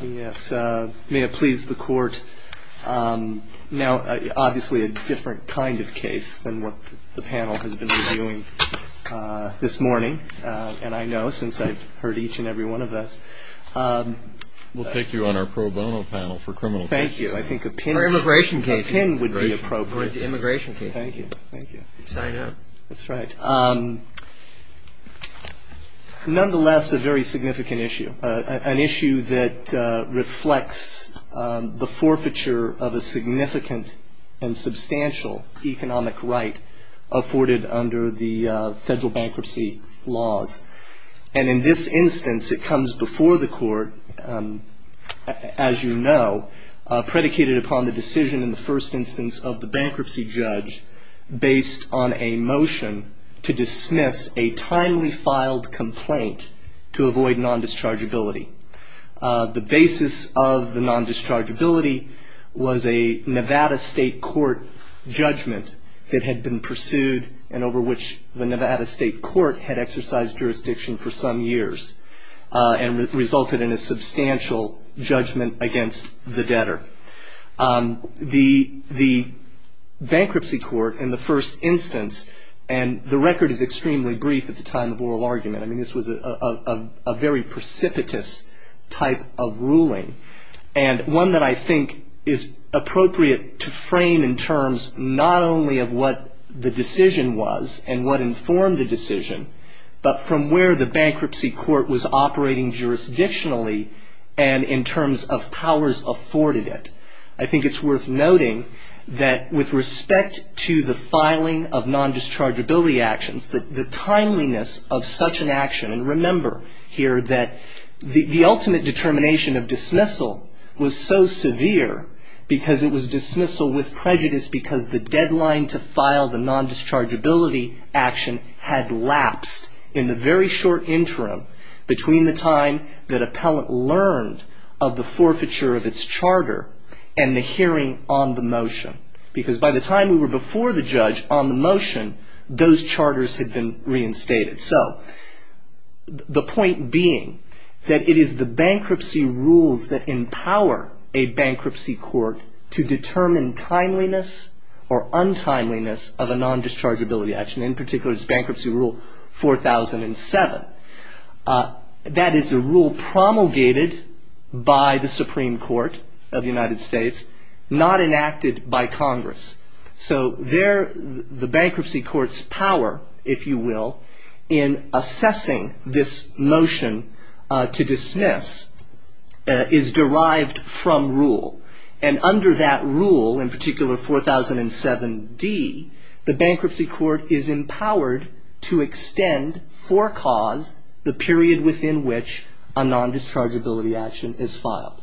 Yes, may it please the court. Now, obviously a different kind of case than what the panel has been reviewing this morning, and I know since I've heard each and every one of us. We'll take you on our pro bono panel for criminal cases. Thank you. I think a pin would be appropriate. For immigration cases. Thank you, thank you. Sign up. That's right. Nonetheless, a very significant issue, an issue that reflects the forfeiture of a significant and substantial economic right afforded under the federal bankruptcy laws. And in this instance, it comes before the court, as you know, predicated upon the decision in the first instance of the bankruptcy judge based on a motion to dismiss a timely filed complaint to avoid non-dischargeability. The basis of the non-dischargeability was a Nevada state court judgment that had been pursued and over which the Nevada state court had exercised jurisdiction for some years. And resulted in a substantial judgment against the debtor. The bankruptcy court in the first instance, and the record is extremely brief at the time of oral argument. I mean, this was a very precipitous type of ruling. And one that I think is appropriate to frame in terms not only of what the decision was and what informed the decision. But from where the bankruptcy court was operating jurisdictionally and in terms of powers afforded it. I think it's worth noting that with respect to the filing of non-dischargeability actions, the timeliness of such an action. And remember here that the ultimate determination of dismissal was so severe because it was dismissal with prejudice. Because the deadline to file the non-dischargeability action had lapsed in the very short interim. Between the time that appellant learned of the forfeiture of its charter and the hearing on the motion. Because by the time we were before the judge on the motion, those charters had been reinstated. So the point being that it is the bankruptcy rules that empower a bankruptcy court to determine timeliness or untimeliness of a non-dischargeability action. In particular, it's bankruptcy rule 4007. That is a rule promulgated by the Supreme Court of the United States, not enacted by Congress. So there the bankruptcy court's power, if you will, in assessing this motion to dismiss is derived from rule. And under that rule, in particular 4007D, the bankruptcy court is empowered to extend for cause the period within which a non-dischargeability action is filed.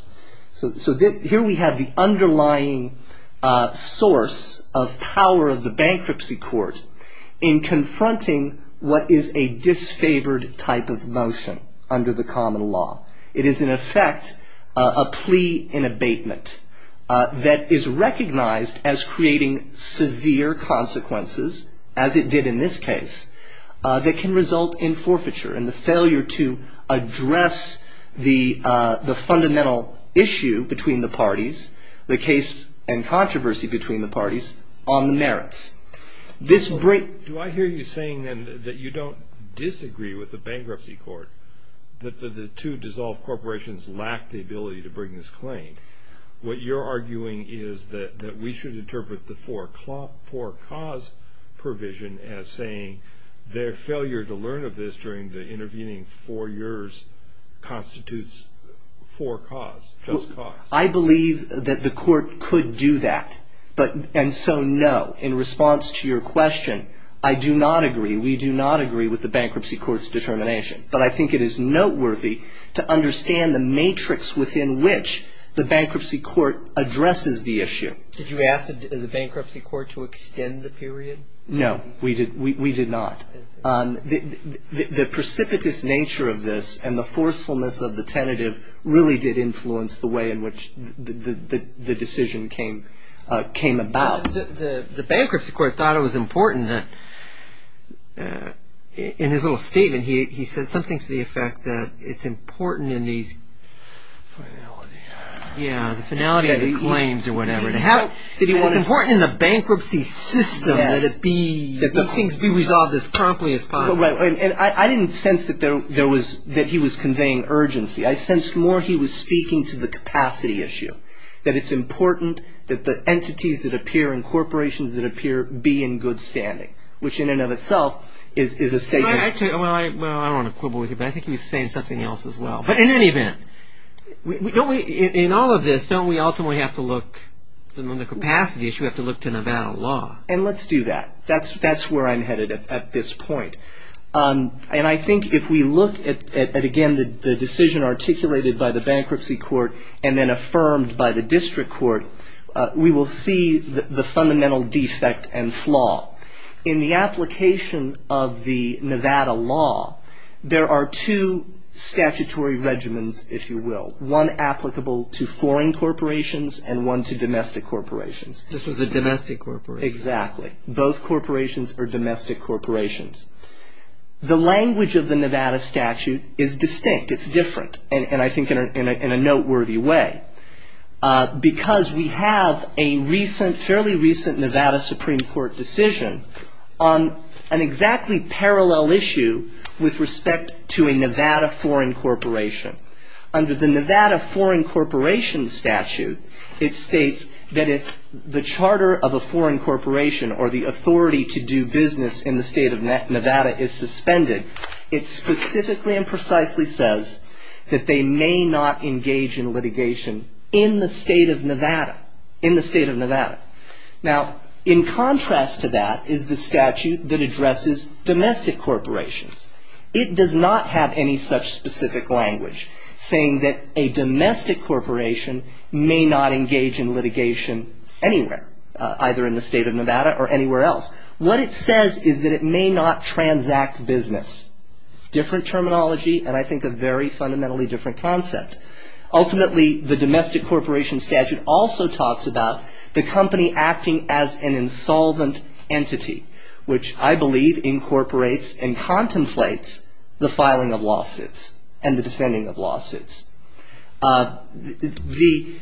So here we have the underlying source of power of the bankruptcy court in confronting what is a disfavored type of motion under the common law. It is in effect a plea in abatement that is recognized as creating severe consequences, as it did in this case, that can result in forfeiture and the failure to address the fundamental issue between the parties, the case and controversy between the parties, on the merits. This break- Do I hear you saying then that you don't disagree with the bankruptcy court, that the two dissolved corporations lack the ability to bring this claim? What you're arguing is that we should interpret the for cause provision as saying their failure to learn of this during the intervening four years constitutes for cause, just cause. I believe that the court could do that, and so no. In response to your question, I do not agree. We do not agree with the bankruptcy court's determination. But I think it is noteworthy to understand the matrix within which the bankruptcy court addresses the issue. Did you ask the bankruptcy court to extend the period? No, we did not. The precipitous nature of this and the forcefulness of the tentative really did influence the way in which the decision came about. The bankruptcy court thought it was important that, in his little statement, he said something to the effect that it's important in these- Finality. Yeah, the finality of the claims or whatever. It's important in the bankruptcy system that these things be resolved as promptly as possible. I didn't sense that he was conveying urgency. I sensed more he was speaking to the capacity issue, that it's important that the entities that appear in corporations that appear be in good standing, which in and of itself is a statement- Well, I don't want to quibble with you, but I think he was saying something else as well. But in any event, in all of this, don't we ultimately have to look- In the capacity issue, we have to look to Nevada law. And let's do that. That's where I'm headed at this point. And I think if we look at, again, the decision articulated by the bankruptcy court and then affirmed by the district court, we will see the fundamental defect and flaw. In the application of the Nevada law, there are two statutory regimens, if you will, one applicable to foreign corporations and one to domestic corporations. This was a domestic corporation. Exactly. Both corporations are domestic corporations. The language of the Nevada statute is distinct. It's different, and I think in a noteworthy way, because we have a fairly recent Nevada Supreme Court decision on an exactly parallel issue with respect to a Nevada foreign corporation. Under the Nevada foreign corporation statute, it states that if the charter of a foreign corporation or the authority to do business in the state of Nevada is suspended, it specifically and precisely says that they may not engage in litigation in the state of Nevada. In the state of Nevada. Now, in contrast to that is the statute that addresses domestic corporations. It does not have any such specific language saying that a domestic corporation may not engage in litigation anywhere, either in the state of Nevada or anywhere else. What it says is that it may not transact business. Different terminology, and I think a very fundamentally different concept. Ultimately, the domestic corporation statute also talks about the company acting as an insolvent entity, which I believe incorporates and contemplates the filing of lawsuits and the defending of lawsuits. The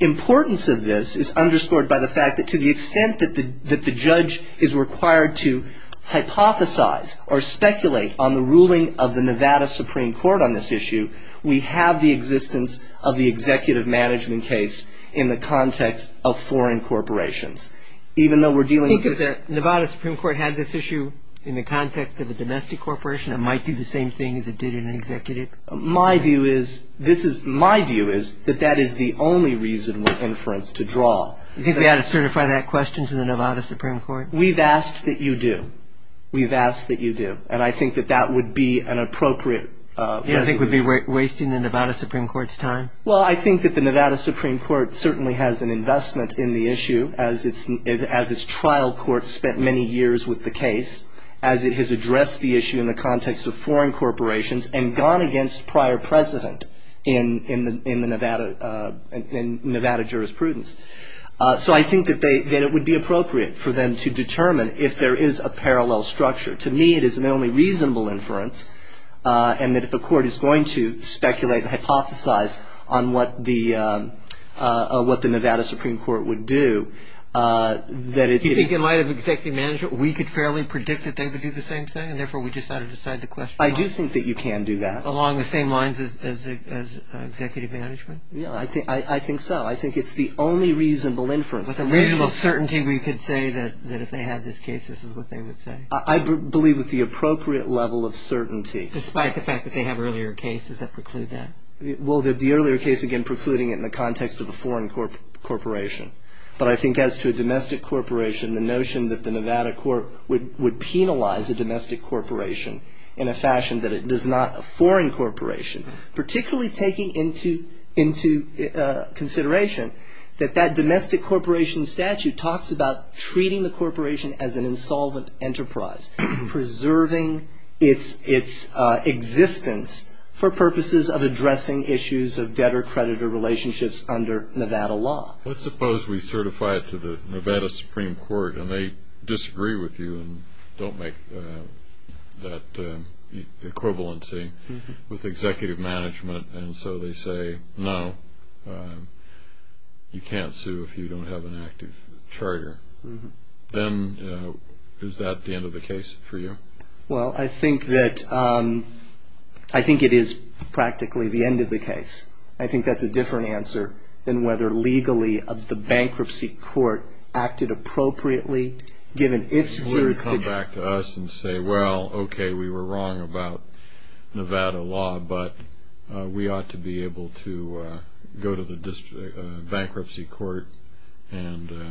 importance of this is underscored by the fact that to the extent that the judge is required to hypothesize or speculate on the ruling of the Nevada Supreme Court on this issue, we have the existence of the executive management case in the context of foreign corporations. Think of the Nevada Supreme Court had this issue in the context of a domestic corporation that might do the same thing as it did in an executive? My view is that that is the only reason we're inference to draw. You think they ought to certify that question to the Nevada Supreme Court? We've asked that you do. We've asked that you do, and I think that that would be an appropriate resolution. You don't think it would be wasting the Nevada Supreme Court's time? Well, I think that the Nevada Supreme Court certainly has an investment in the issue as its trial court spent many years with the case, as it has addressed the issue in the context of foreign corporations and gone against prior precedent in Nevada jurisprudence. So I think that it would be appropriate for them to determine if there is a parallel structure. To me, it is an only reasonable inference, and that if a court is going to speculate and hypothesize on what the Nevada Supreme Court would do, that it is... You think in light of executive management, we could fairly predict that they would do the same thing, and therefore we just ought to decide the question along... I do think that you can do that. Along the same lines as executive management? Yeah, I think so. I think it's the only reasonable inference. With a reasonable certainty, we could say that if they had this case, this is what they would say? I believe with the appropriate level of certainty. Despite the fact that they have earlier cases that preclude that? Well, the earlier case, again, precluding it in the context of a foreign corporation. But I think as to a domestic corporation, the notion that the Nevada court would penalize a domestic corporation in a fashion that it does not a foreign corporation, particularly taking into consideration that that domestic corporation statute talks about treating the corporation as an insolvent enterprise, preserving its existence for purposes of addressing issues of debtor-creditor relationships under Nevada law. Let's suppose we certify it to the Nevada Supreme Court, and they disagree with you and don't make that equivalency with executive management, and so they say, no, you can't sue if you don't have an active charter. Then is that the end of the case for you? Well, I think it is practically the end of the case. I think that's a different answer than whether legally the bankruptcy court acted appropriately given its jurisdiction. So you would come back to us and say, well, okay, we were wrong about Nevada law, but we ought to be able to go to the bankruptcy court under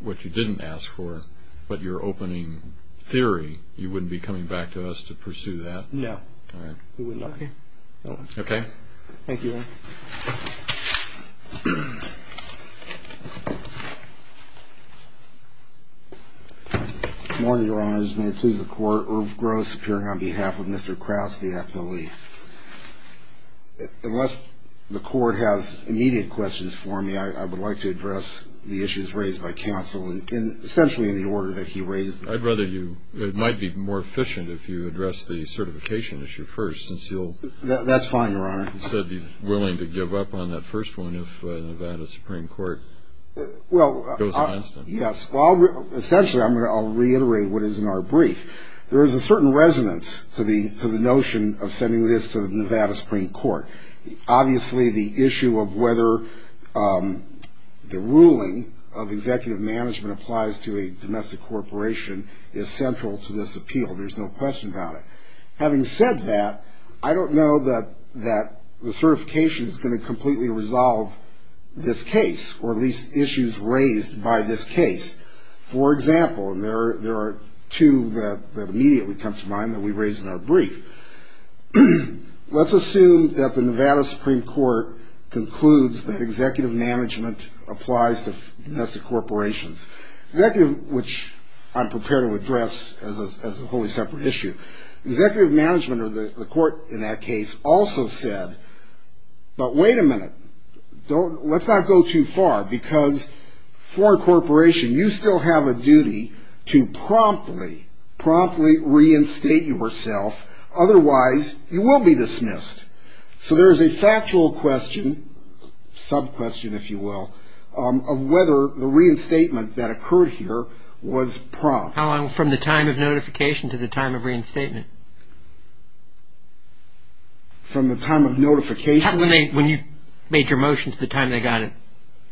what you didn't ask for, but your opening theory, you wouldn't be coming back to us to pursue that? No. All right. We would not. Okay. Thank you. Good morning, Your Honors. May it please the Court, Irv Gross appearing on behalf of Mr. Krause, the affiliate. Unless the Court has immediate questions for me, I would like to address the issues raised by counsel, and essentially in the order that he raised them. I'd rather you, it might be more efficient if you address the certification issue first since you'll That's fine, Your Honor. He said he's willing to give up on that first one if the Nevada Supreme Court goes against him. Yes. Well, essentially I'll reiterate what is in our brief. There is a certain resonance to the notion of sending this to the Nevada Supreme Court. Obviously the issue of whether the ruling of executive management applies to a domestic corporation is central to this appeal. There's no question about it. Having said that, I don't know that the certification is going to completely resolve this case, or at least issues raised by this case. For example, there are two that immediately come to mind that we raise in our brief. Let's assume that the Nevada Supreme Court concludes that executive management applies to domestic corporations, which I'm prepared to address as a wholly separate issue. Executive management or the court in that case also said, but wait a minute, let's not go too far because foreign corporation, you still have a duty to promptly, promptly reinstate yourself, otherwise you will be dismissed. So there is a factual question, sub-question if you will, of whether the reinstatement that occurred here was prompt. How long from the time of notification to the time of reinstatement? From the time of notification? When you made your motion to the time they got it.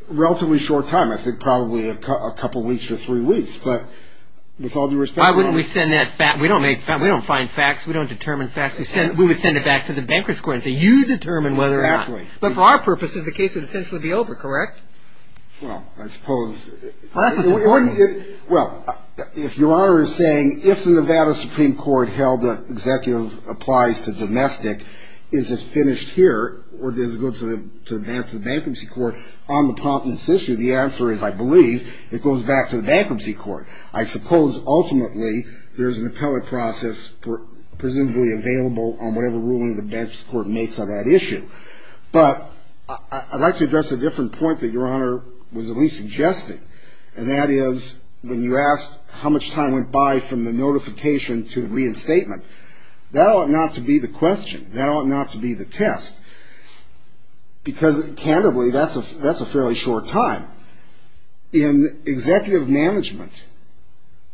Relatively short time, I think probably a couple weeks or three weeks, but with all due respect. Why wouldn't we send that, we don't make, we don't find facts, we don't determine facts, we would send it back to the bankruptcy court and say you determine whether or not. Exactly. But for our purposes the case would essentially be over, correct? Well, I suppose. Well, if Your Honor is saying if the Nevada Supreme Court held that executive applies to domestic, is it finished here or does it go to the bankruptcy court on the promptness issue, the answer is I believe it goes back to the bankruptcy court. I suppose ultimately there is an appellate process presumably available on whatever ruling the bankruptcy court makes on that issue. But I'd like to address a different point that Your Honor was at least suggesting, and that is when you asked how much time went by from the notification to the reinstatement, that ought not to be the question. That ought not to be the test. Because, candidly, that's a fairly short time. In executive management,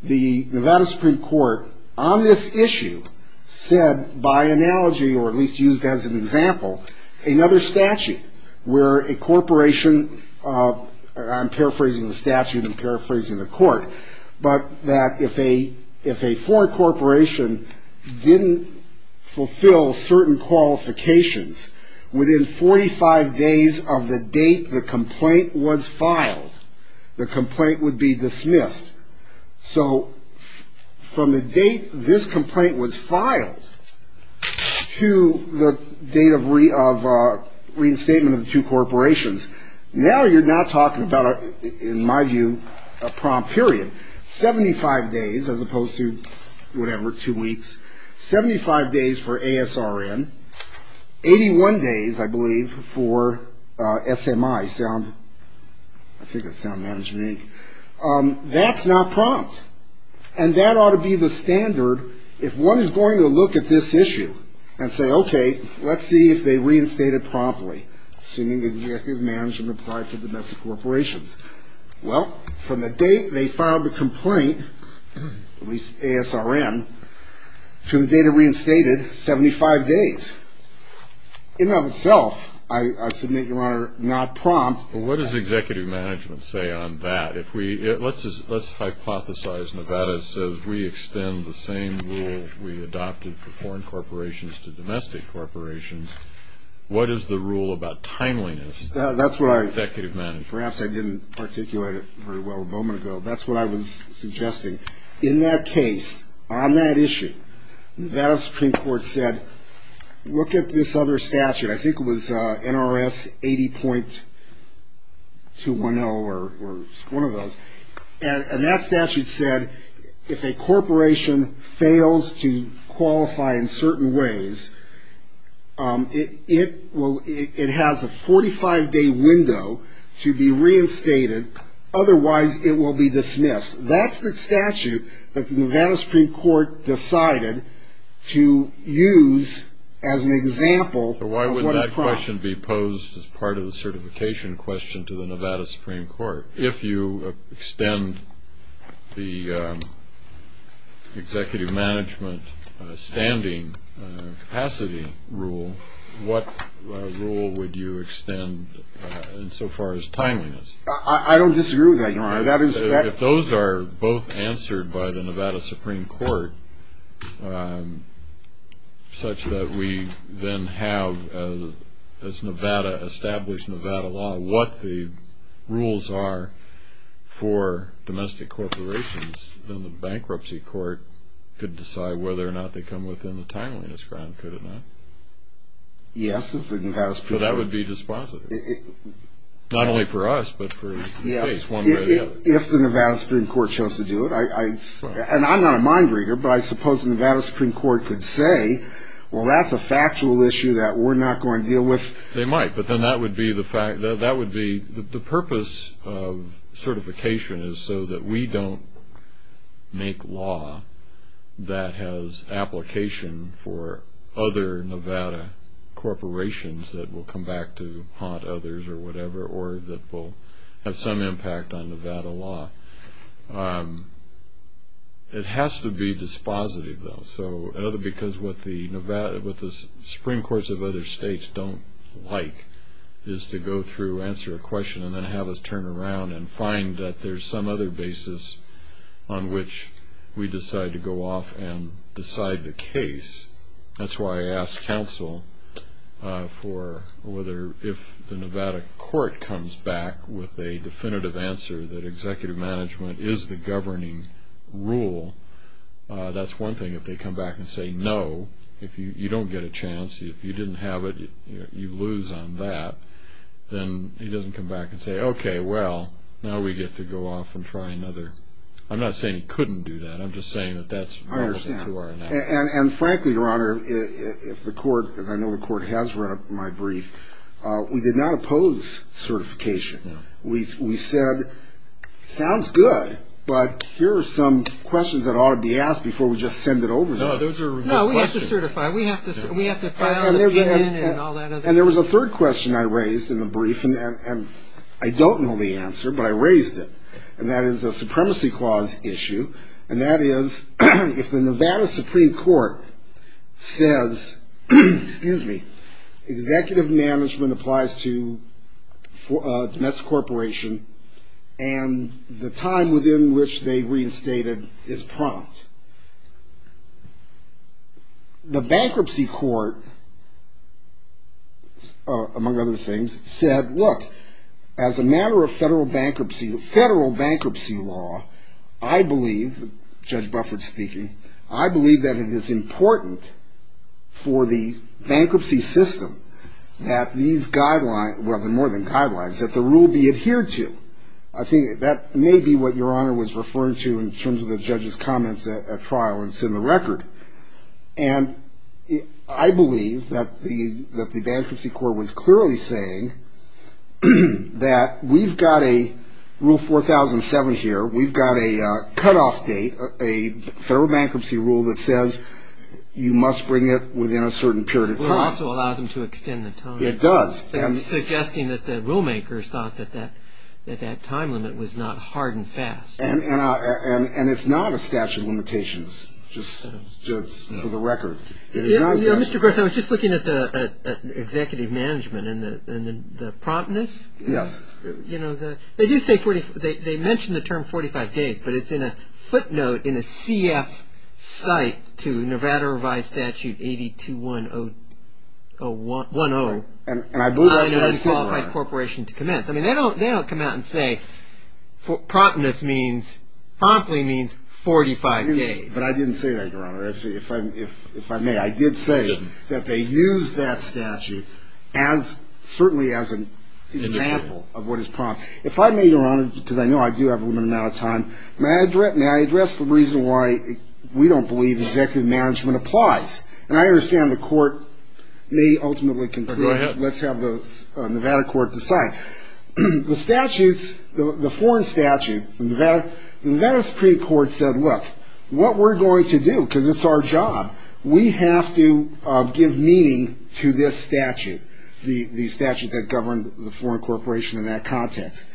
the Nevada Supreme Court on this issue said by analogy or at least used as an example, another statute where a corporation, I'm paraphrasing the statute, I'm paraphrasing the court, but that if a foreign corporation didn't fulfill certain qualifications, within 45 days of the date the complaint was filed, the complaint would be dismissed. So from the date this complaint was filed to the date of reinstatement of the two corporations, now you're not talking about, in my view, a prompt period. 75 days as opposed to whatever, two weeks, 75 days for ASRN, 81 days, I believe, for SMI, I think it's Sound Management Inc., that's not prompt. And that ought to be the standard if one is going to look at this issue and say, okay, let's see if they reinstated promptly, assuming executive management applied to domestic corporations. Well, from the date they filed the complaint, at least ASRN, to the date it reinstated, 75 days. In and of itself, I submit, Your Honor, not prompt. Well, what does executive management say on that? Let's hypothesize Nevada says we extend the same rule we adopted for foreign corporations to domestic corporations. What is the rule about timeliness? That's what I... Executive management. Perhaps I didn't articulate it very well a moment ago. That's what I was suggesting. In that case, on that issue, Nevada Supreme Court said, look at this other statute. I think it was NRS 80.210 or one of those. And that statute said if a corporation fails to qualify in certain ways, it has a 45-day window to be reinstated, otherwise it will be dismissed. That's the statute that the Nevada Supreme Court decided to use as an example of what is prompt. So why would that question be posed as part of the certification question to the Nevada Supreme Court? If you extend the executive management standing capacity rule, what rule would you extend insofar as timeliness? I don't disagree with that, Your Honor. If those are both answered by the Nevada Supreme Court, such that we then have, as Nevada established Nevada law, what the rules are for domestic corporations, then the bankruptcy court could decide whether or not they come within the timeliness ground, could it not? Yes, if it has to. So that would be dispositive. Not only for us, but for the state. If the Nevada Supreme Court chose to do it, and I'm not a mind reader, but I suppose the Nevada Supreme Court could say, well, that's a factual issue that we're not going to deal with. They might, but then that would be the purpose of certification is so that we don't make law that has application for other Nevada corporations that will come back to haunt others or whatever, or that will have some impact on Nevada law. It has to be dispositive, though. So because what the Supreme Courts of other states don't like is to go through, answer a question, and then have us turn around and find that there's some other basis on which we decide to go off and decide the case. That's why I asked counsel for whether if the Nevada court comes back with a definitive answer that executive management is the governing rule, that's one thing. If they come back and say, no, you don't get a chance. If you didn't have it, you lose on that. Then he doesn't come back and say, okay, well, now we get to go off and try another. I'm not saying he couldn't do that. I'm just saying that that's relevant to our analysis. And frankly, Your Honor, if the court, and I know the court has read my brief, we did not oppose certification. We said, sounds good, but here are some questions that ought to be asked before we just send it over. No, those are good questions. No, we have to certify. We have to file an opinion and all that other stuff. And there was a third question I raised in the brief, and I don't know the answer, but I raised it, and that is a supremacy clause issue, and that is if the Nevada Supreme Court says, excuse me, executive management applies to a domestic corporation, and the time within which they reinstated is prompt. The bankruptcy court, among other things, said, look, as a matter of federal bankruptcy, federal bankruptcy law, I believe, Judge Bufford speaking, I believe that it is important for the bankruptcy system that these guidelines, well, they're more than guidelines, that the rule be adhered to. I think that may be what Your Honor was referring to in terms of the judge's comments at trial, and it's in the record. And I believe that the bankruptcy court was clearly saying that we've got a rule 4007 here, we've got a cutoff date, a federal bankruptcy rule that says you must bring it within a certain period of time. It also allows them to extend the time. It does. Suggesting that the rule makers thought that that time limit was not hard and fast. And it's not a statute of limitations, just for the record. Mr. Griffith, I was just looking at the executive management and the promptness. Yes. You know, they mention the term 45 days, but it's in a footnote in a CF site to Nevada Revised Statute 821-10. And I believe that's what he said, Your Honor. Not an unqualified corporation to commence. I mean, they don't come out and say promptness means, promptly means 45 days. But I didn't say that, Your Honor. If I may, I did say that they used that statute certainly as an example of what is prompt. If I may, Your Honor, because I know I do have a limited amount of time, may I address the reason why we don't believe executive management applies? And I understand the court may ultimately conclude. Go ahead. Let's have the Nevada court decide. The statutes, the foreign statute, the Nevada Supreme Court said, look, what we're going to do, because it's our job, we have to give meaning to this statute, the statute that governed the foreign corporation in that context.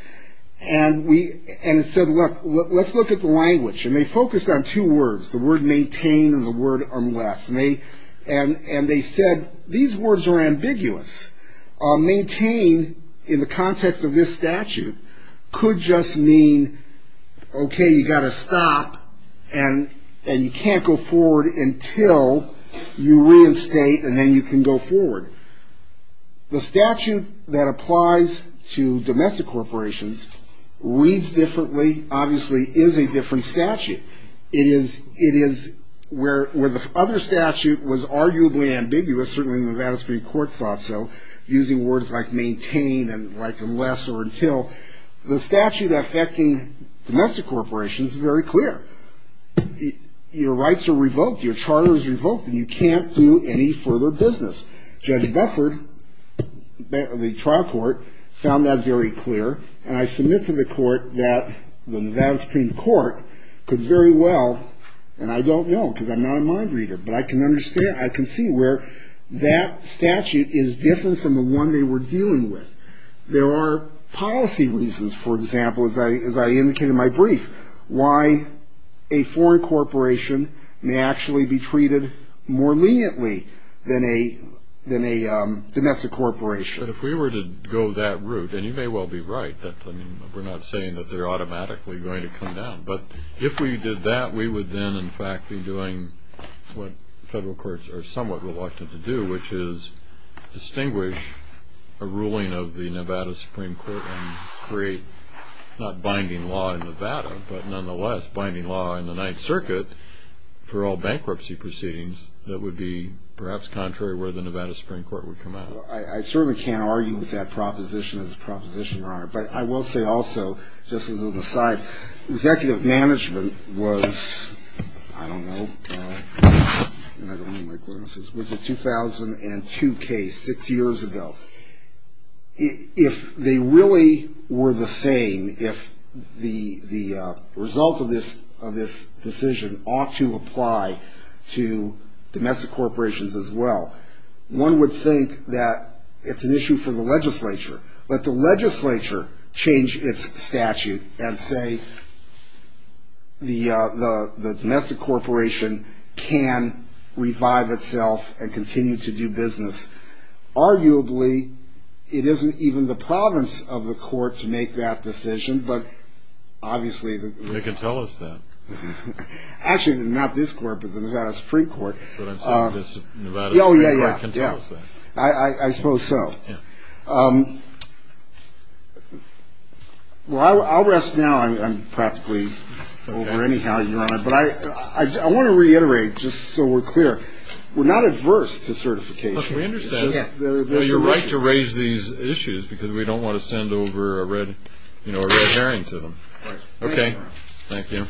And it said, look, let's look at the language. And they focused on two words, the word maintain and the word unless. And they said, these words are ambiguous. Maintain in the context of this statute could just mean, okay, you've got to stop and you can't go forward until you reinstate and then you can go forward. The statute that applies to domestic corporations reads differently, obviously, is a different statute. It is where the other statute was arguably ambiguous, certainly the Nevada Supreme Court thought so, using words like maintain and like unless or until. The statute affecting domestic corporations is very clear. Your rights are revoked, your charter is revoked, and you can't do any further business. Judge Bufford, the trial court, found that very clear. And I submit to the court that the Nevada Supreme Court could very well, and I don't know because I'm not a mind reader, but I can understand, I can see where that statute is different from the one they were dealing with. There are policy reasons, for example, as I indicated in my brief, why a foreign corporation may actually be treated more leniently than a domestic corporation. But if we were to go that route, and you may well be right, we're not saying that they're automatically going to come down. But if we did that, we would then, in fact, be doing what federal courts are somewhat reluctant to do, which is distinguish a ruling of the Nevada Supreme Court and create not binding law in Nevada, but nonetheless binding law in the Ninth Circuit for all bankruptcy proceedings that would be perhaps contrary where the Nevada Supreme Court would come out. So I certainly can't argue with that proposition as a proposition, Your Honor. But I will say also, just as an aside, executive management was, I don't know, was a 2002 case six years ago. If they really were the same, if the result of this decision ought to apply to domestic corporations as well, one would think that it's an issue for the legislature. Let the legislature change its statute and say the domestic corporation can revive itself and continue to do business. Arguably, it isn't even the province of the court to make that decision, but obviously... They can tell us that. Actually, not this court, but the Nevada Supreme Court. But I'm saying the Nevada Supreme Court can tell us that. Oh, yeah, yeah. I suppose so. Yeah. Well, I'll rest now. I'm practically over anyhow, Your Honor. But I want to reiterate, just so we're clear, we're not adverse to certification. Look, we understand. Yeah. You're right to raise these issues because we don't want to send over a red herring to them. Right. Okay. Thank you.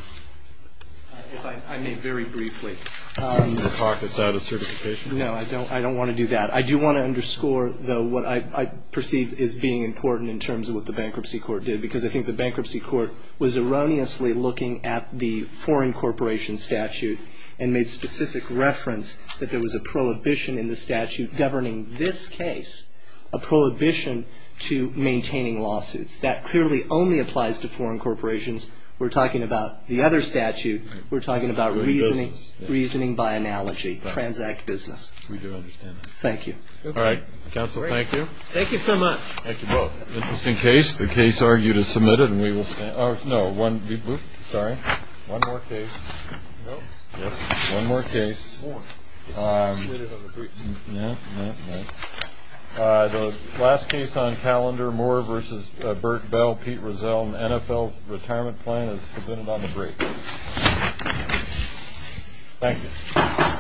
If I may very briefly... You want to talk us out of certification? No, I don't want to do that. I do want to underscore, though, what I perceive as being important in terms of what the bankruptcy court did, because I think the bankruptcy court was erroneously looking at the foreign corporation statute and made specific reference that there was a prohibition in the statute governing this case, a prohibition to maintaining lawsuits. That clearly only applies to foreign corporations. We're talking about the other statute. We're talking about reasoning by analogy, transact business. We do understand that. Thank you. All right. Counsel, thank you. Thank you so much. Thank you both. Interesting case. The case argued is submitted, and we will stand. Oh, no. Sorry. One more case. No. Yes. One more case. More. It's submitted on the briefing. No, no, no. The last case on calendar, Moore v. Burt Bell, Pete Rozelle, an NFL retirement plan is submitted on the briefing. Thank you.